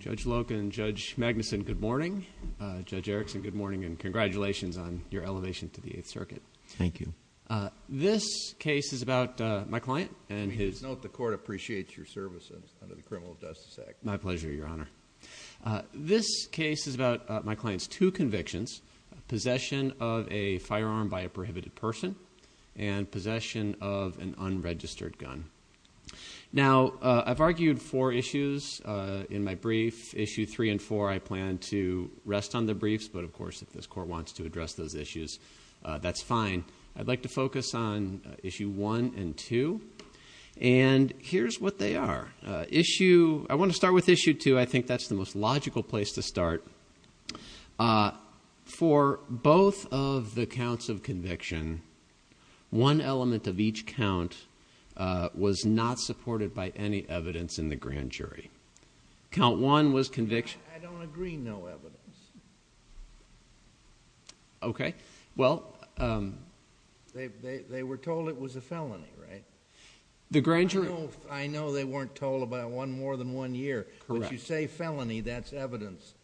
Judge Loken, Judge Magnuson, good morning. Judge Erickson, good morning, and congratulations on your elevation to the Eighth Circuit. Thank you. This case is about my client and his- Please note the court appreciates your services under the Criminal Justice Act. My pleasure, Your Honor. This case is about my client's two convictions, possession of a firearm by a prohibited person, and possession of an unregistered gun. Now, I've argued four issues in my brief. Issue three and four I plan to rest on the briefs, but of course, if this court wants to address those issues, that's fine. I'd like to focus on issue one and two, and here's what they are. Issue, I want to start with issue two. I think that's the most logical place to start. For both of the counts of conviction, one element of each count was not supported by any evidence in the grand jury. Count one was conviction- I don't agree, no evidence. Okay, well- They were told it was a felony, right? The grand jury- I know they weren't told about one more than one year. Correct. But you say felony, that's evidence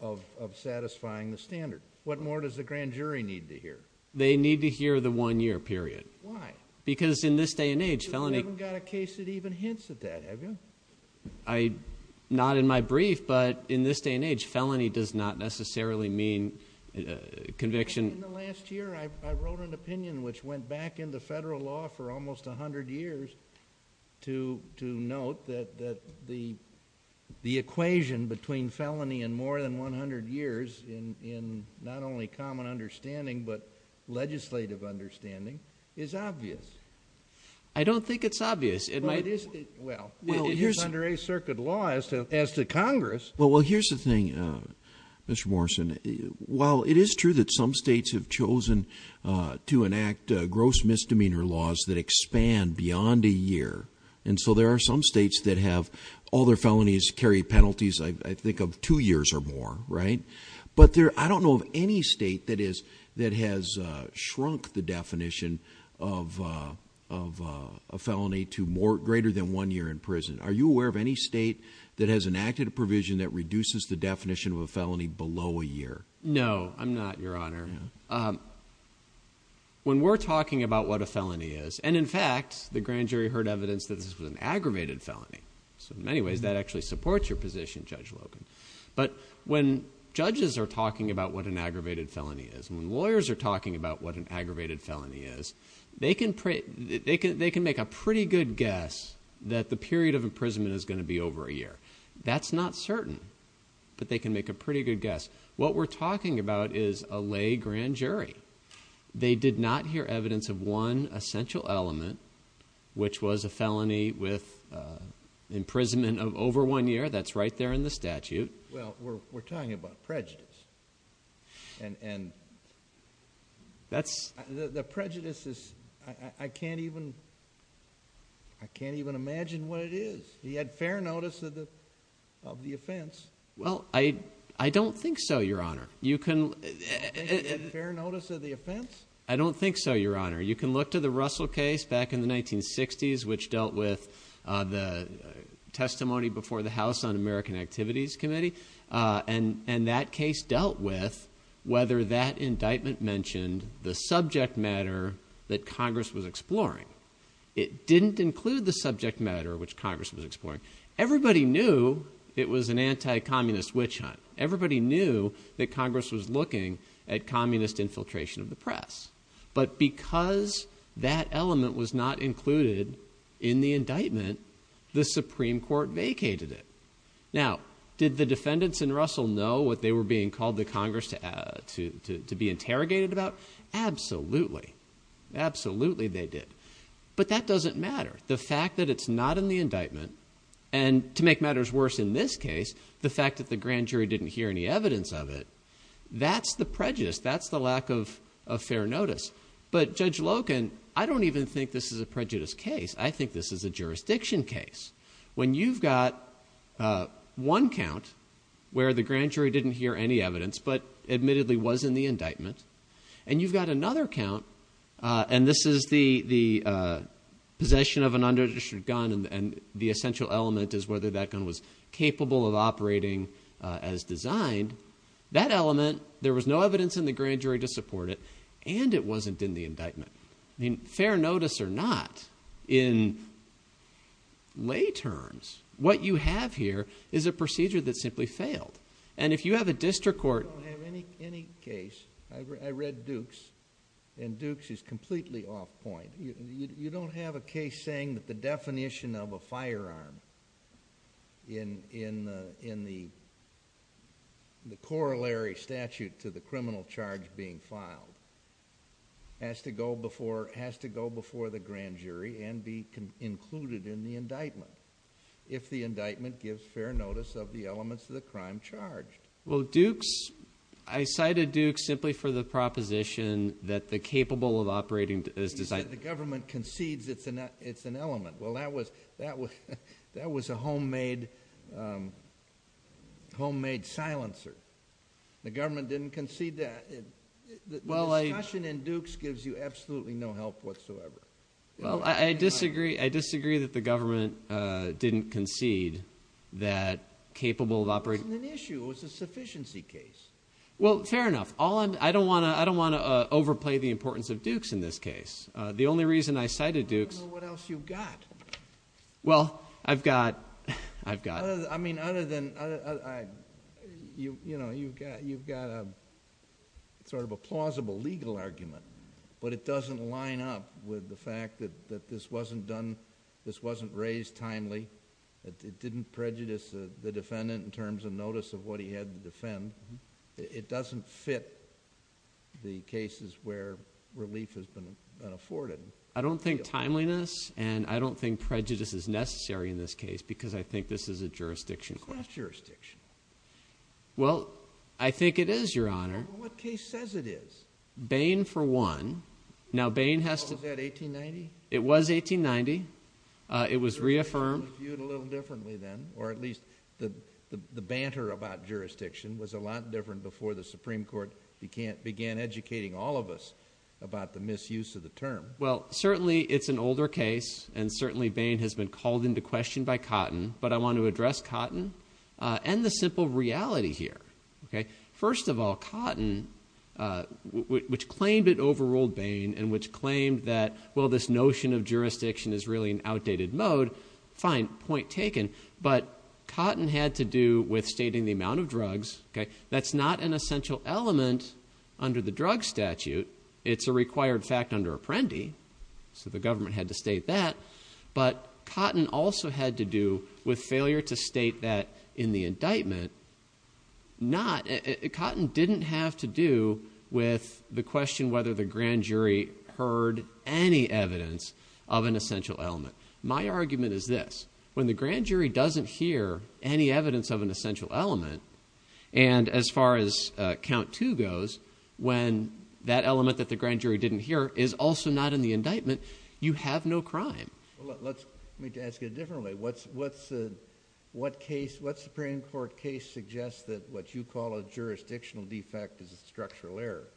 of satisfying the standard. What more does the grand jury need to hear? They need to hear the one year period. Why? Because in this day and age, felony- You haven't got a case that even hints at that, have you? I, not in my brief, but in this day and age, felony does not necessarily mean conviction. In the last year, I wrote an opinion which went back into federal law for almost 100 years to note that the equation between felony and more than 100 years in not only common understanding, but legislative understanding is obvious. I don't think it's obvious. Well, it's under a circuit law as to Congress. Well, here's the thing, Mr. Morrison. While it is true that some states have chosen to enact gross misdemeanor laws that expand beyond a year. And so there are some states that have all their felonies carry penalties, I think, of two years or more, right? But I don't know of any state that has shrunk the definition of a felony to greater than one year in prison. Are you aware of any state that has enacted a provision that reduces the definition of a felony below a year? No, I'm not, your honor. When we're talking about what a felony is, and in fact, the grand jury heard evidence that this was an aggravated felony. So in many ways, that actually supports your position, Judge Logan. But when judges are talking about what an aggravated felony is, and they can make a pretty good guess that the period of imprisonment is going to be over a year. That's not certain, but they can make a pretty good guess. What we're talking about is a lay grand jury. They did not hear evidence of one essential element, which was a felony with imprisonment of over one year. That's right there in the statute. Well, we're talking about prejudice, and the prejudice is, I can't even, I can't even imagine what it is. He had fair notice of the offense. Well, I don't think so, your honor. You can- Fair notice of the offense? I don't think so, your honor. You can look to the Russell case back in the 1960s, which dealt with the testimony before the House on American Activities Committee. And that case dealt with whether that indictment mentioned the subject matter that Congress was exploring. It didn't include the subject matter which Congress was exploring. Everybody knew it was an anti-communist witch hunt. Everybody knew that Congress was looking at communist infiltration of the press. But because that element was not included in the indictment, the Supreme Court vacated it. Now, did the defendants in Russell know what they were being called to Congress to be interrogated about? Absolutely, absolutely they did. But that doesn't matter. The fact that it's not in the indictment, and to make matters worse in this case, the fact that the grand jury didn't hear any evidence of it, that's the prejudice. That's the lack of fair notice. But Judge Loken, I don't even think this is a prejudice case. I think this is a jurisdiction case. When you've got one count where the grand jury didn't hear any evidence, but admittedly was in the indictment. And you've got another count, and this is the possession of an unregistered gun and the essential element is whether that gun was capable of operating as designed. That element, there was no evidence in the grand jury to support it, and it wasn't in the indictment. I mean, fair notice or not, in lay terms, what you have here is a procedure that simply failed. And if you have a district court- I don't have any case, I read Dukes, and Dukes is completely off point. You don't have a case saying that the definition of a firearm in the corollary statute to the criminal charge being filed has to go before the grand jury and be included in the indictment. If the indictment gives fair notice of the elements of the crime charged. Well, Dukes, I cited Dukes simply for the proposition that the capable of operating as designed. The government concedes it's an element. Well, that was a homemade silencer. The government didn't concede that. The discussion in Dukes gives you absolutely no help whatsoever. Well, I disagree that the government didn't concede that capable of operating- It wasn't an issue, it was a sufficiency case. Well, fair enough. I don't want to overplay the importance of Dukes in this case. The only reason I cited Dukes- I don't know what else you've got. Well, I've got- I mean, you've got a plausible legal argument, but it doesn't line up with the fact that this wasn't raised timely. It didn't prejudice the defendant in terms of notice of what he had to defend. It doesn't fit the cases where relief has been afforded. I don't think timeliness and I don't think prejudice is necessary in this case, because I think this is a jurisdiction question. It's not jurisdiction. Well, I think it is, Your Honor. What case says it is? Bain for one. Now, Bain has to- Was that 1890? It was 1890. It was reaffirmed. Viewed a little differently then, or at least the banter about jurisdiction was a lot different before the Supreme Court began educating all of us about the misuse of the term. Well, certainly, it's an older case, and certainly, Bain has been called into question by Cotton, but I want to address Cotton and the simple reality here. First of all, Cotton, which claimed it overruled Bain and which claimed that, well, this notion of jurisdiction is really an outdated mode, fine, point taken, but Cotton had to do with stating the amount of drugs. That's not an essential element under the drug statute. It's a required fact under Apprendi, so the government had to state that, but Cotton also had to do with failure to state that in the indictment. Cotton didn't have to do with the question whether the grand jury heard any evidence of an essential element. My argument is this. When the grand jury doesn't hear any evidence of an essential element, and as far as count two goes, when that element that the grand jury didn't hear is also not in the indictment, you have no crime. Let me ask it differently. What Supreme Court case suggests that what you call a jurisdictional defect is a structural error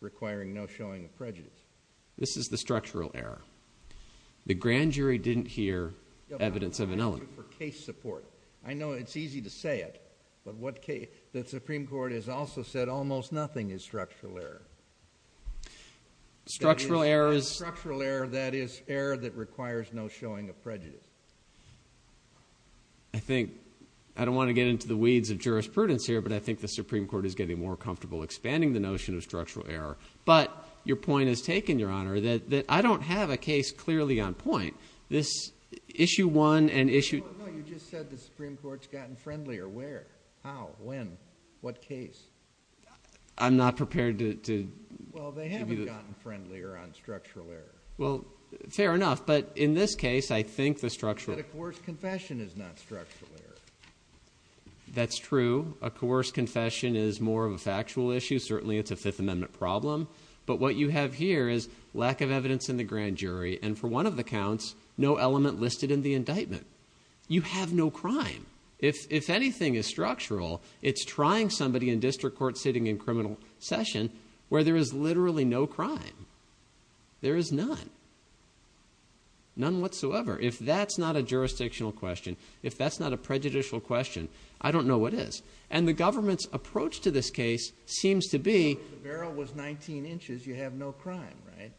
requiring no showing of prejudice? This is the structural error. The grand jury didn't hear evidence of an element. For case support. I know it's easy to say it, but the Supreme Court has also said almost nothing is structural error. Structural error is... Structural error, that is, error that requires no showing of prejudice. I think... I don't want to get into the weeds of jurisprudence here, but I think the Supreme Court is getting more comfortable expanding the notion of structural error, but your point is taken, Your Honour, that I don't have a case clearly on point. This issue one and issue... No, you just said the Supreme Court's gotten friendlier. Friendlier where? How? When? What case? I'm not prepared to... Well, they haven't gotten friendlier on structural error. Well, fair enough, but in this case, I think the structural... That a coerced confession is not structural error. That's true. A coerced confession is more of a factual issue. Certainly, it's a Fifth Amendment problem. But what you have here is lack of evidence in the grand jury, and for one of the counts, no element listed in the indictment. You have no crime. If anything is structural, it's trying somebody in district court sitting in criminal session where there is literally no crime. There is none. None whatsoever. If that's not a jurisdictional question, if that's not a prejudicial question, I don't know what is. And the government's approach to this case seems to be... If the barrel was 19 inches, you have no crime, right?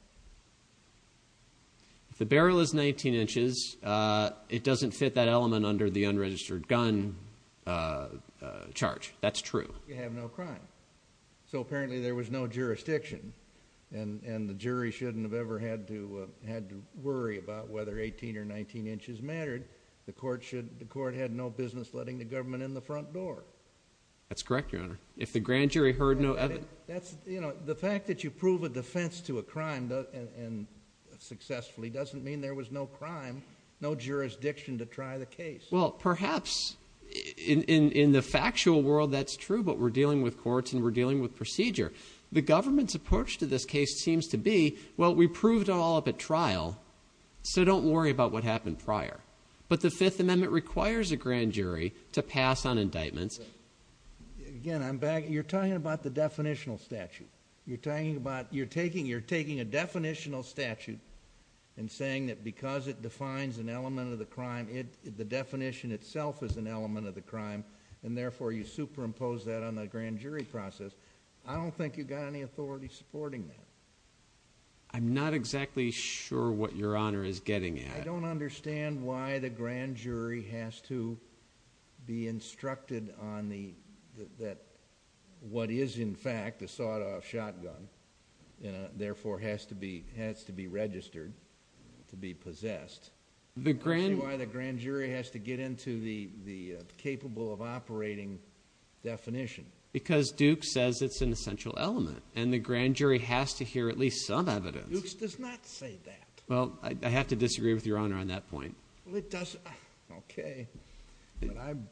If the barrel is 19 inches, it doesn't fit that element under the unregistered gun charge. That's true. You have no crime. So, apparently, there was no jurisdiction, and the jury shouldn't have ever had to worry about whether 18 or 19 inches mattered. The court had no business letting the government in the front door. That's correct, Your Honour. If the grand jury heard no evidence... The fact that you prove a defence to a crime successfully doesn't mean there was no crime, no jurisdiction to try the case. Well, perhaps, in the factual world, that's true, but we're dealing with courts and we're dealing with procedure. The government's approach to this case seems to be, well, we proved it all up at trial, so don't worry about what happened prior. But the Fifth Amendment requires a grand jury to pass on indictments. Again, I'm back... You're talking about the definitional statute. You're talking about... You're taking a definitional statute and saying that because it defines an element of the crime, the definition itself is an element of the crime, and therefore you superimpose that on the grand jury process. I don't think you've got any authority supporting that. I'm not exactly sure what Your Honour is getting at. I don't understand why the grand jury has to be instructed on the... that what is, in fact, a sawed-off shotgun, and therefore has to be registered to be possessed. I don't see why the grand jury has to get into the capable of operating definition. Because Duke says it's an essential element, and the grand jury has to hear at least some evidence. Duke's does not say that. Well, I have to disagree with Your Honour on that point. Well, it does... OK. But I'm...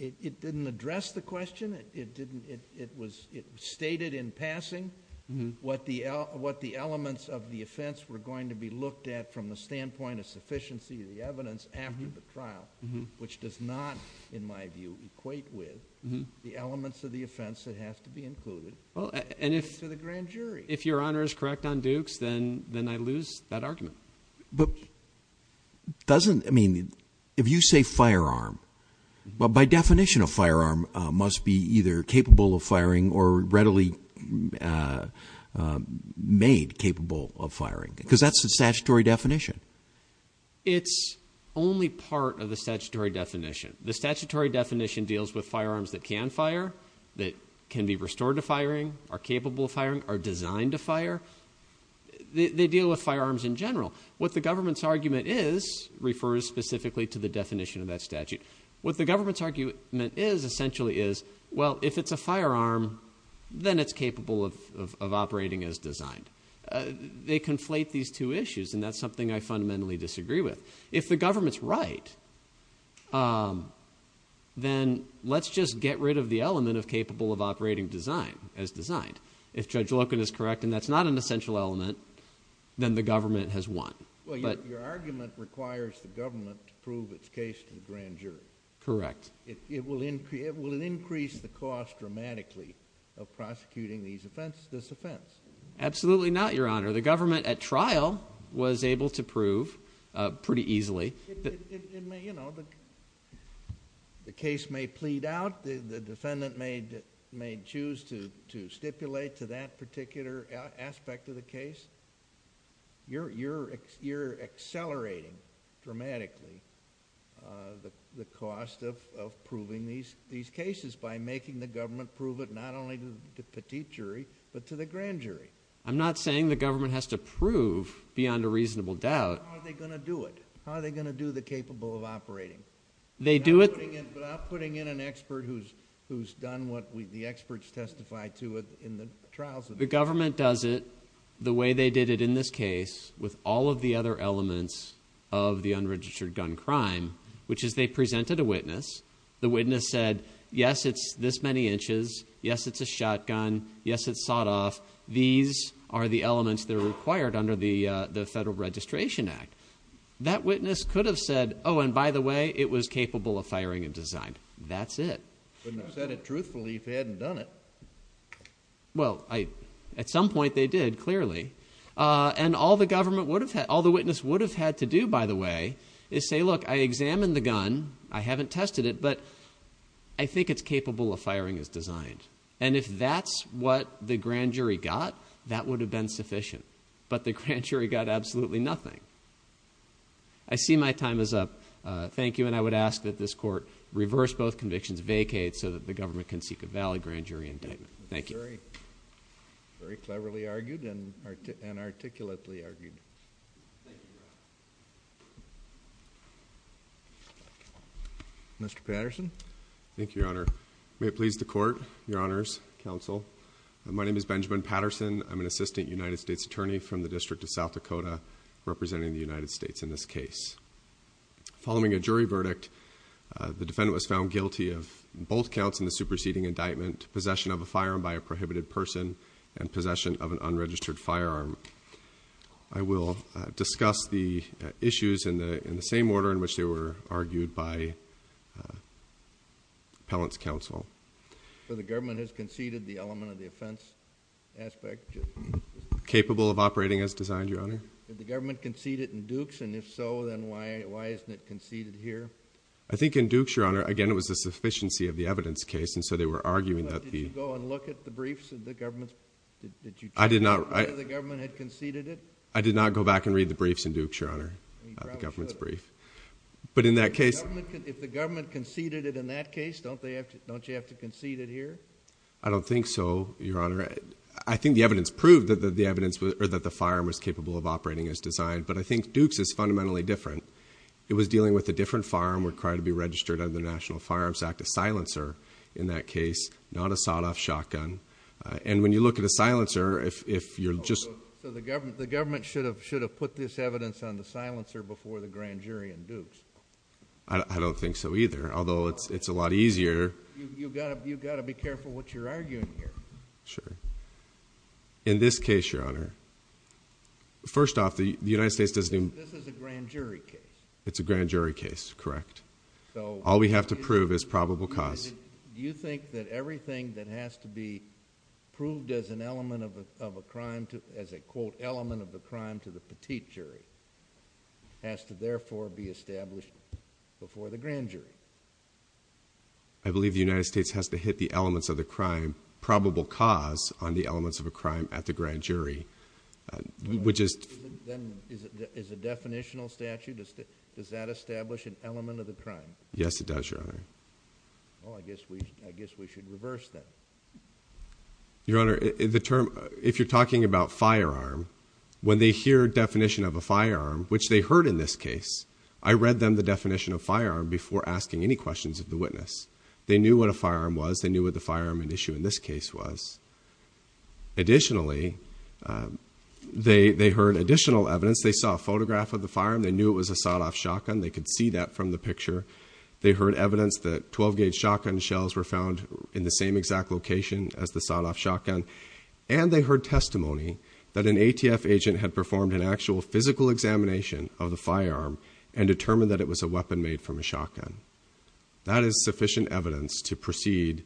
It didn't address the question. It didn't... It was... It was stated in passing. What the elements of the offence were going to be looked at from the standpoint of sufficiency of the evidence after the trial, which does not, in my view, equate with the elements of the offence that have to be included to the grand jury. If Your Honour is correct on Duke's, then I lose that argument. But doesn't... I mean, if you say firearm, by definition, a firearm must be either capable of firing or readily made capable of firing? Because that's the statutory definition. It's only part of the statutory definition. The statutory definition deals with firearms that can fire, that can be restored to firing, are capable of firing, are designed to fire. They deal with firearms in general. What the government's argument is refers specifically to the definition of that statute. What the government's argument is, essentially, is, well, if it's a firearm, then it's capable of operating as designed. They conflate these two issues, and that's something I fundamentally disagree with. If the government's right, then let's just get rid of the element of capable of operating design, as designed. If Judge Loken is correct, and that's not an essential element, then the government has won. Well, your argument requires the government to prove its case to the grand jury. Correct. Will it increase the cost dramatically of prosecuting this offence? Absolutely not, Your Honour. The government, at trial, was able to prove, pretty easily... It may, you know... The case may plead out, the defendant may choose to stipulate to that particular aspect of the case. You're accelerating, dramatically, the cost of proving these cases by making the government prove it, not only to the petite jury, but to the grand jury. I'm not saying the government has to prove, beyond a reasonable doubt... How are they going to do it? How are they going to do the capable of operating? They do it... Without putting in an expert who's done what the experts testified to in the trials... The government does it the way they did it in this case, with all of the other elements of the unregistered gun crime, which is, they presented a witness, the witness said, yes, it's this many inches, yes, it's a shotgun, yes, it's sawed-off, these are the elements that are required under the Federal Registration Act. That witness could have said, oh, and by the way, it was capable of firing and designed. That's it. Wouldn't have said it truthfully if they hadn't done it. Well, at some point, they did, clearly. And all the government would have had... All the witness would have had to do, by the way, is say, look, I examined the gun, I haven't tested it, but I think it's capable of firing as designed. And if that's what the grand jury got, that would have been sufficient. But the grand jury got absolutely nothing. I see my time is up. Thank you, and I would ask that this court reverse both convictions, vacate so that the government can seek a valid grand jury indictment. Thank you. Very cleverly argued and articulately argued. Thank you, Your Honor. Mr. Patterson. Thank you, Your Honor. May it please the Court, Your Honors, Counsel. My name is Benjamin Patterson. I'm an assistant United States attorney from the District of South Dakota representing the United States in this case. Following a jury verdict, the defendant was found guilty of both counts in the superseding indictment, possession of a firearm by a prohibited person and possession of an unregistered firearm. I will discuss the issues in the same order in which they were argued by appellant's counsel. So the government has conceded the element of the offense aspect? Capable of operating as designed, Your Honor. Did the government concede it in Dukes? And if so, then why isn't it conceded here? I think in Dukes, Your Honor, again it was a sufficiency of the evidence case and so they were arguing that the... But did you go and look at the briefs of the government's... I did not... Did you check whether the government had conceded it? I did not go back and read the briefs in Dukes, Your Honor, the government's brief. But in that case... If the government conceded it in that case, don't you have to concede it here? I don't think so, Your Honor. I think the evidence proved that the firearm was capable of operating as designed, but I think Dukes is fundamentally different. It was dealing with a different firearm required to be registered under the National Firearms Act, a silencer in that case, not a sawed-off shotgun. And when you look at a silencer, if you're just... So the government should have put this evidence on the silencer before the grand jury in Dukes? I don't think so either, although it's a lot easier... You've got to be careful what you're arguing here. Sure. In this case, Your Honor... First off, the United States doesn't... This is a grand jury case. It's a grand jury case, correct. So... All we have to prove is probable cause. Do you think that everything that has to be proved as an element of a crime to... as a, quote, element of a crime to the petite jury has to therefore be established before the grand jury? I believe the United States has to hit the elements of the crime, probable cause, on the elements of a crime at the grand jury, which is... Then is a definitional statute, does that establish an element of the crime? Yes, it does, Your Honor. Well, I guess we should reverse that. Your Honor, the term... If you're talking about firearm, when they hear a definition of a firearm, which they heard in this case, I read them the definition of firearm before asking any questions of the witness. They knew what a firearm was. They knew what the firearm at issue in this case was. Additionally, they heard additional evidence. They saw a photograph of the firearm. They knew it was a sawed-off shotgun. They could see that from the picture. They heard evidence that 12-gauge shotgun shells were found in the same exact location as the sawed-off shotgun. And they heard testimony that an ATF agent had performed an actual physical examination of the firearm and determined that it was a weapon made from a shotgun. That is sufficient evidence to proceed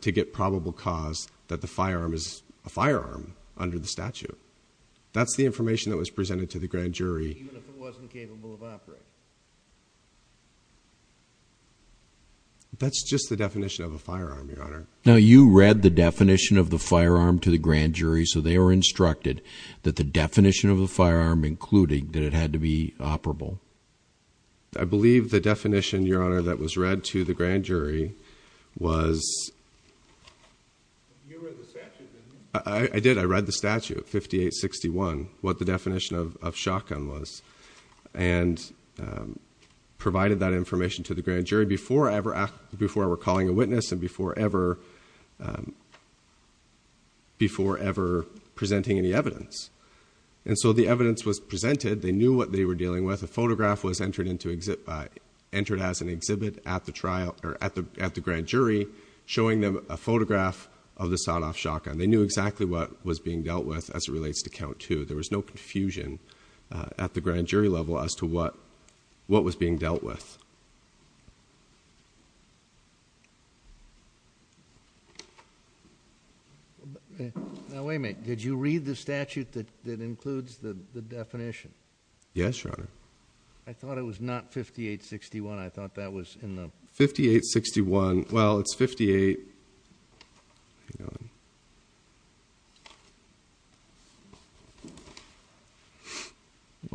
to get probable cause that the firearm is a firearm under the statute. That's the information that was presented to the grand jury. Even if it wasn't capable of operating? That's just the definition of a firearm, Your Honor. Now, you read the definition of the firearm to the grand jury, so they were instructed that the definition of a firearm, including that it had to be operable. I believe the definition, Your Honor, that was read to the grand jury was... You read the statute, didn't you? I did. I read the statute, 5861, what the definition of shotgun was, and provided that information to the grand jury before I were calling a witness and before ever presenting any evidence. And so the evidence was presented. They knew what they were dealing with. A photograph was entered as an exhibit at the grand jury, showing them a photograph of the sawed-off shotgun. They knew exactly what was being dealt with as it relates to count two. There was no confusion at the grand jury level as to what was being dealt with. Now, wait a minute. Did you read the statute that includes the definition? Yes, Your Honor. I thought it was not 5861. I thought that was in the... 5861, well, it's 58...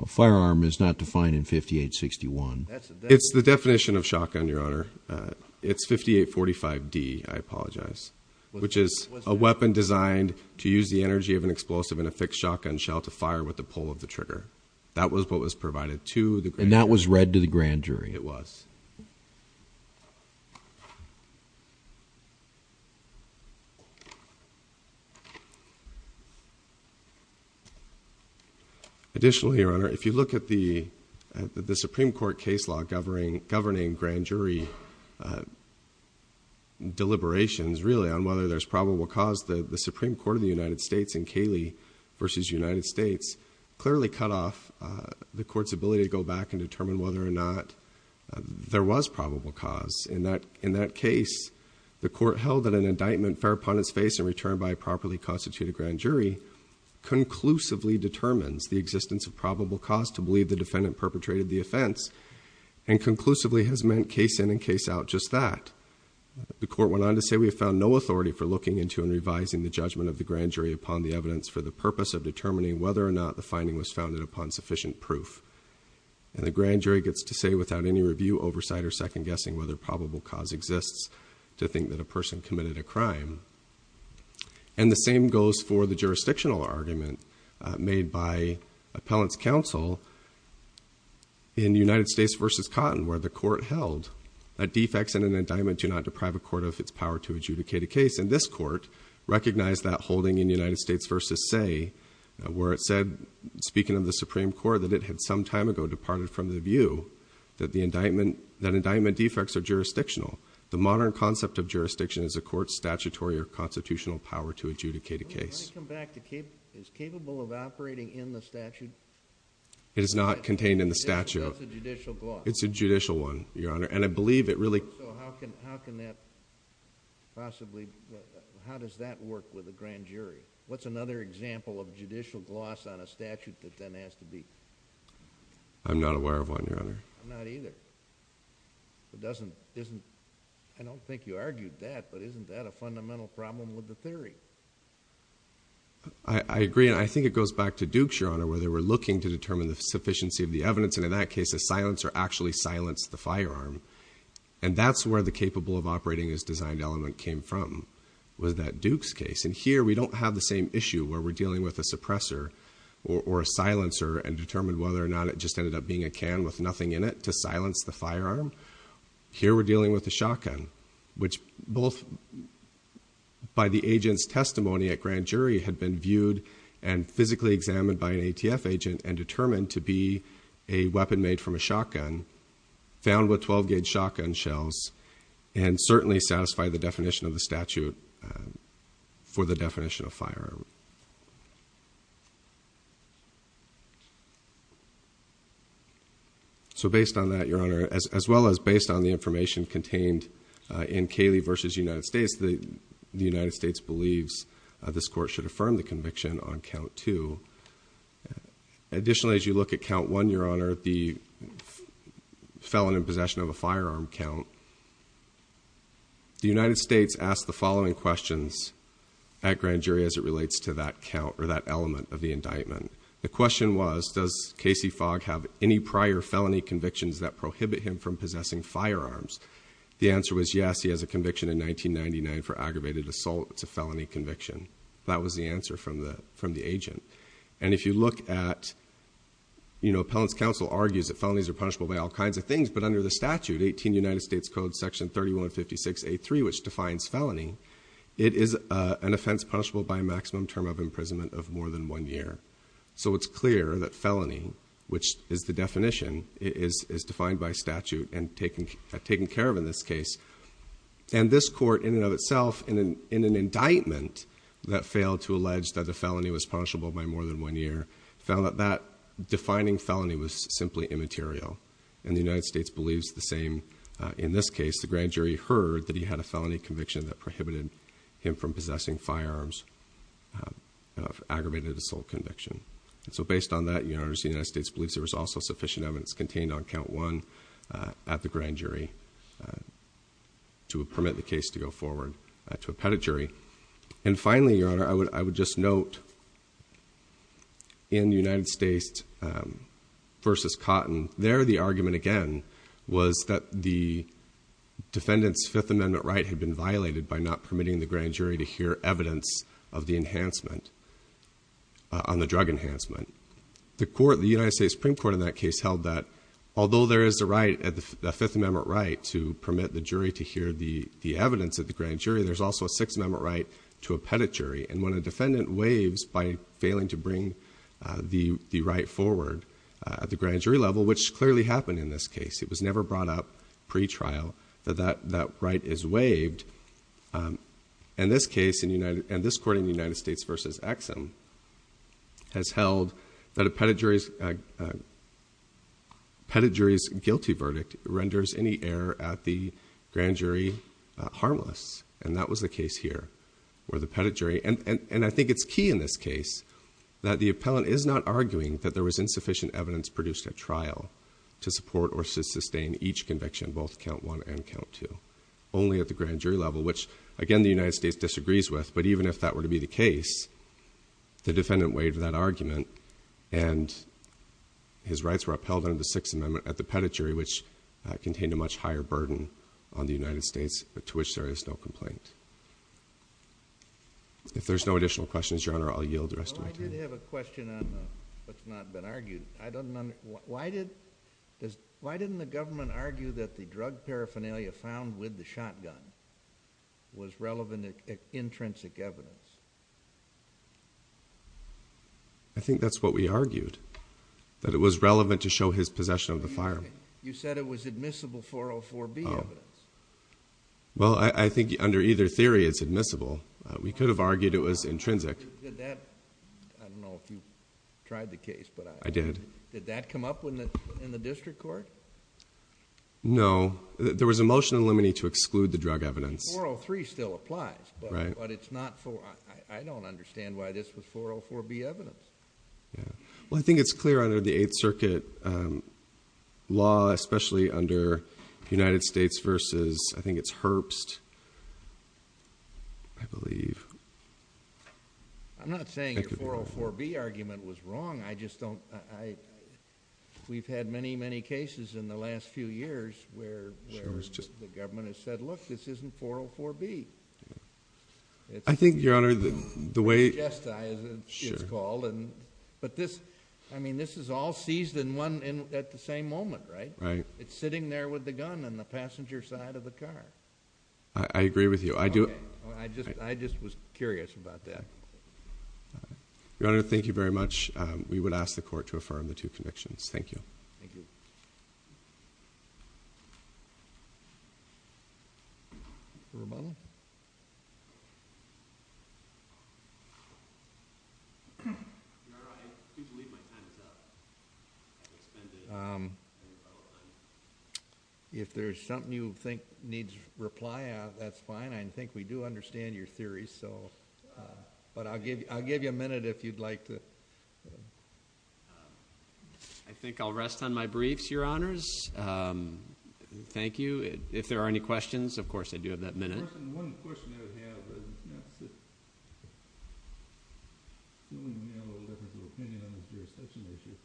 A firearm is not defined in 5861. It's the definition of shotgun, Your Honor. It's 5845D, I apologize, which is a weapon designed to use the energy of an explosive in a fixed shotgun shell to fire with the pull of the trigger. That was what was provided to the grand jury. And that was read to the grand jury. It was. Additionally, Your Honor, if you look at the Supreme Court case law governing grand jury deliberations, really on whether there's probable cause, the Supreme Court of the United States in Cayley v. United States clearly cut off the court's ability to go back and determine whether or not there was probable cause. In that case, the court held that an indictment fair upon its face and returned by a properly constituted grand jury conclusively determines the existence of probable cause to believe the defendant perpetrated the offense and conclusively has meant case in and case out just that. The court went on to say, we have found no authority for looking into and revising the judgment of the grand jury upon the evidence for the purpose of determining whether or not the finding was founded upon sufficient proof. And the grand jury gets to say without any review, oversight or second guessing whether probable cause exists to think that a person committed a crime. And the same goes for the jurisdictional argument made by appellant's counsel in United States v. Cotton where the court held that defects in an indictment do not deprive a court of its power to adjudicate a case. And this court recognized that holding in United States v. Say where it said, speaking of the Supreme Court, that it had some time ago departed from the view that indictment defects are jurisdictional. The modern concept of jurisdiction is a court's statutory or constitutional power to adjudicate a case. Let me come back. Is capable of operating in the statute? It is not contained in the statute. That's a judicial gloss. It's a judicial one, Your Honor. And I believe it really... So how can that possibly... How does that work with a grand jury? What's another example of judicial gloss on a statute that then has to be... I'm not aware of one, Your Honor. I'm not either. It doesn't... I don't think you argued that, but isn't that a fundamental problem with the theory? I agree. And I think it goes back to Dukes, Your Honor, where they were looking to determine the sufficiency of the evidence. And in that case, a silencer actually silenced the firearm. And that's where the capable of operating as designed element came from, was that Dukes case. And here, we don't have the same issue where we're dealing with a suppressor or a silencer and determine whether or not it just ended up being a can with nothing in it to silence the firearm. Here, we're dealing with a shotgun, which both by the agent's testimony at grand jury had been viewed and physically examined by an ATF agent and determined to be a weapon made from a shotgun, found with 12-gauge shotgun shells, and certainly satisfied the definition of the statute for the definition of firearm. So based on that, Your Honor, as well as based on the information contained in Cayley v. United States, the United States believes this court should affirm the conviction on Count 2. Additionally, as you look at Count 1, Your Honor, the felon in possession of a firearm count, the United States asked the following questions at grand jury as it relates to that count or that element of the indictment. The question was, does Casey Fogg have any prior felony convictions that prohibit him from possessing firearms? The answer was, yes, he has a conviction in 1999 for aggravated assault. It's a felony conviction. That was the answer from the agent. And if you look at, you know, appellant's counsel argues that felonies are punishable by all kinds of things, but under the statute, 18 United States Code Section 3156.A.3, which defines felony, it is an offense punishable by a maximum term of imprisonment of more than one year. So it's clear that felony, which is the definition, is defined by statute and taken care of in this case. And this court, in and of itself, in an indictment that failed to allege that the felony was punishable by more than one year, found that that defining felony was simply immaterial. And the United States believes the same in this case. The grand jury heard that he had a felony conviction that prohibited him from possessing firearms of aggravated assault conviction. And so based on that, the United States believes there was also sufficient evidence contained on count one at the grand jury to permit the case to go forward to a petit jury. And finally, Your Honor, I would just note, in United States v. Cotton, there the argument, again, was that the defendant's Fifth Amendment right had been violated by not permitting the grand jury to hear evidence of the enhancement, on the drug enhancement. The court, the United States Supreme Court in that case, held that although there is a right, a Fifth Amendment right, to permit the jury to hear the evidence at the grand jury, there's also a Sixth Amendment right to a petit jury. And when a defendant waives by failing to bring the right forward at the grand jury level, which clearly happened in this case, it was never brought up pre-trial, that that right is waived. In this case, and this court in the United States v. Exum, has held that a petit jury's guilty verdict renders any error at the grand jury harmless. And that was the case here, where the petit jury... And I think it's key in this case that the appellant is not arguing that there was insufficient evidence produced at trial to support or sustain each conviction, both Count I and Count II, only at the grand jury level, which, again, the United States disagrees with. But even if that were to be the case, the defendant waived that argument, and his rights were upheld under the Sixth Amendment at the petit jury, which contained a much higher burden on the United States, to which there is no complaint. If there's no additional questions, Your Honor, I'll yield the rest of my time. I did have a question on what's not been argued. Why didn't the government argue that the drug paraphernalia found with the shotgun was relevant intrinsic evidence? I think that's what we argued, that it was relevant to show his possession of the firearm. You said it was admissible 404B evidence. Well, I think under either theory it's admissible. We could have argued it was intrinsic. Did that... I don't know if you tried the case, but... I did. Did that come up in the district court? No. There was a motion in limine to exclude the drug evidence. 403 still applies, but it's not... I don't understand why this was 404B evidence. Yeah. Well, I think it's clear under the Eighth Circuit law, especially under the United States versus... I think it's Herbst, I believe. I'm not saying your 404B argument was wrong. I just don't... We've had many, many cases in the last few years where the government has said, look, this isn't 404B. I think, Your Honour, the way... It's called... But this, I mean, this is all seized at the same moment, right? Right. It's sitting there with the gun on the passenger side of the car. I agree with you. I do... I just was curious about that. Your Honour, thank you very much. We would ask the court to affirm the two convictions. Thank you. Thank you. Rebuttal? Your Honour, I do believe my time is up. I've expended my rebuttal time. If there's something you think needs reply, that's fine. I think we do understand your theory, so... But I'll give you a minute if you'd like to... I think I'll rest on my briefs, Your Honours. Thank you. If there are any questions, of course, I do have that minute. One question I would have is... I have a little difference of opinion on this jurisdiction issue.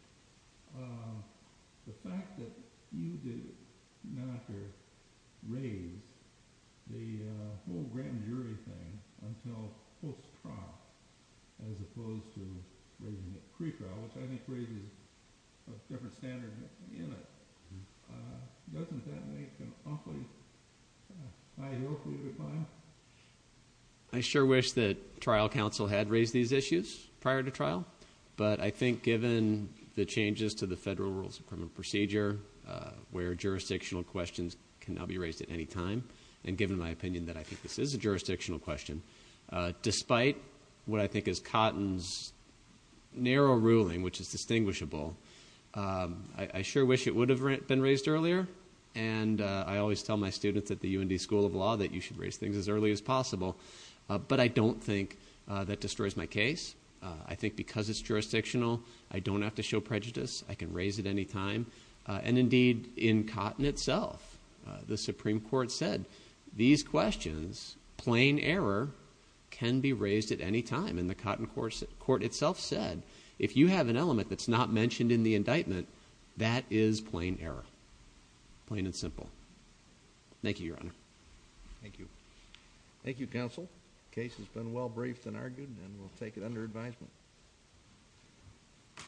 The fact that you did not raise the whole grand jury thing until post-trial, as opposed to raising it pre-trial, which I think raises a different standard in it. Doesn't that make an awfully high hill for you to climb? I sure wish that trial counsel had raised these issues prior to trial. But I think given the changes to the federal rules of criminal procedure, where jurisdictional questions can now be raised at any time, and given my opinion that I think this is a jurisdictional question, despite what I think is Cotton's narrow ruling, which is distinguishable, I sure wish it would have been raised earlier. And I always tell my students at the UND School of Law that you should raise things as early as possible. But I don't think that destroys my case. I think because it's jurisdictional, I don't have to show prejudice. I can raise it any time. And indeed, in Cotton itself, the Supreme Court said, these questions, plain error, can be raised at any time. And the Cotton court itself said, if you have an element that's not mentioned in the indictment, that is plain error. Plain and simple. Thank you, Your Honor. Thank you. Thank you, counsel. The case has been well briefed and argued, and we'll take it under advisement.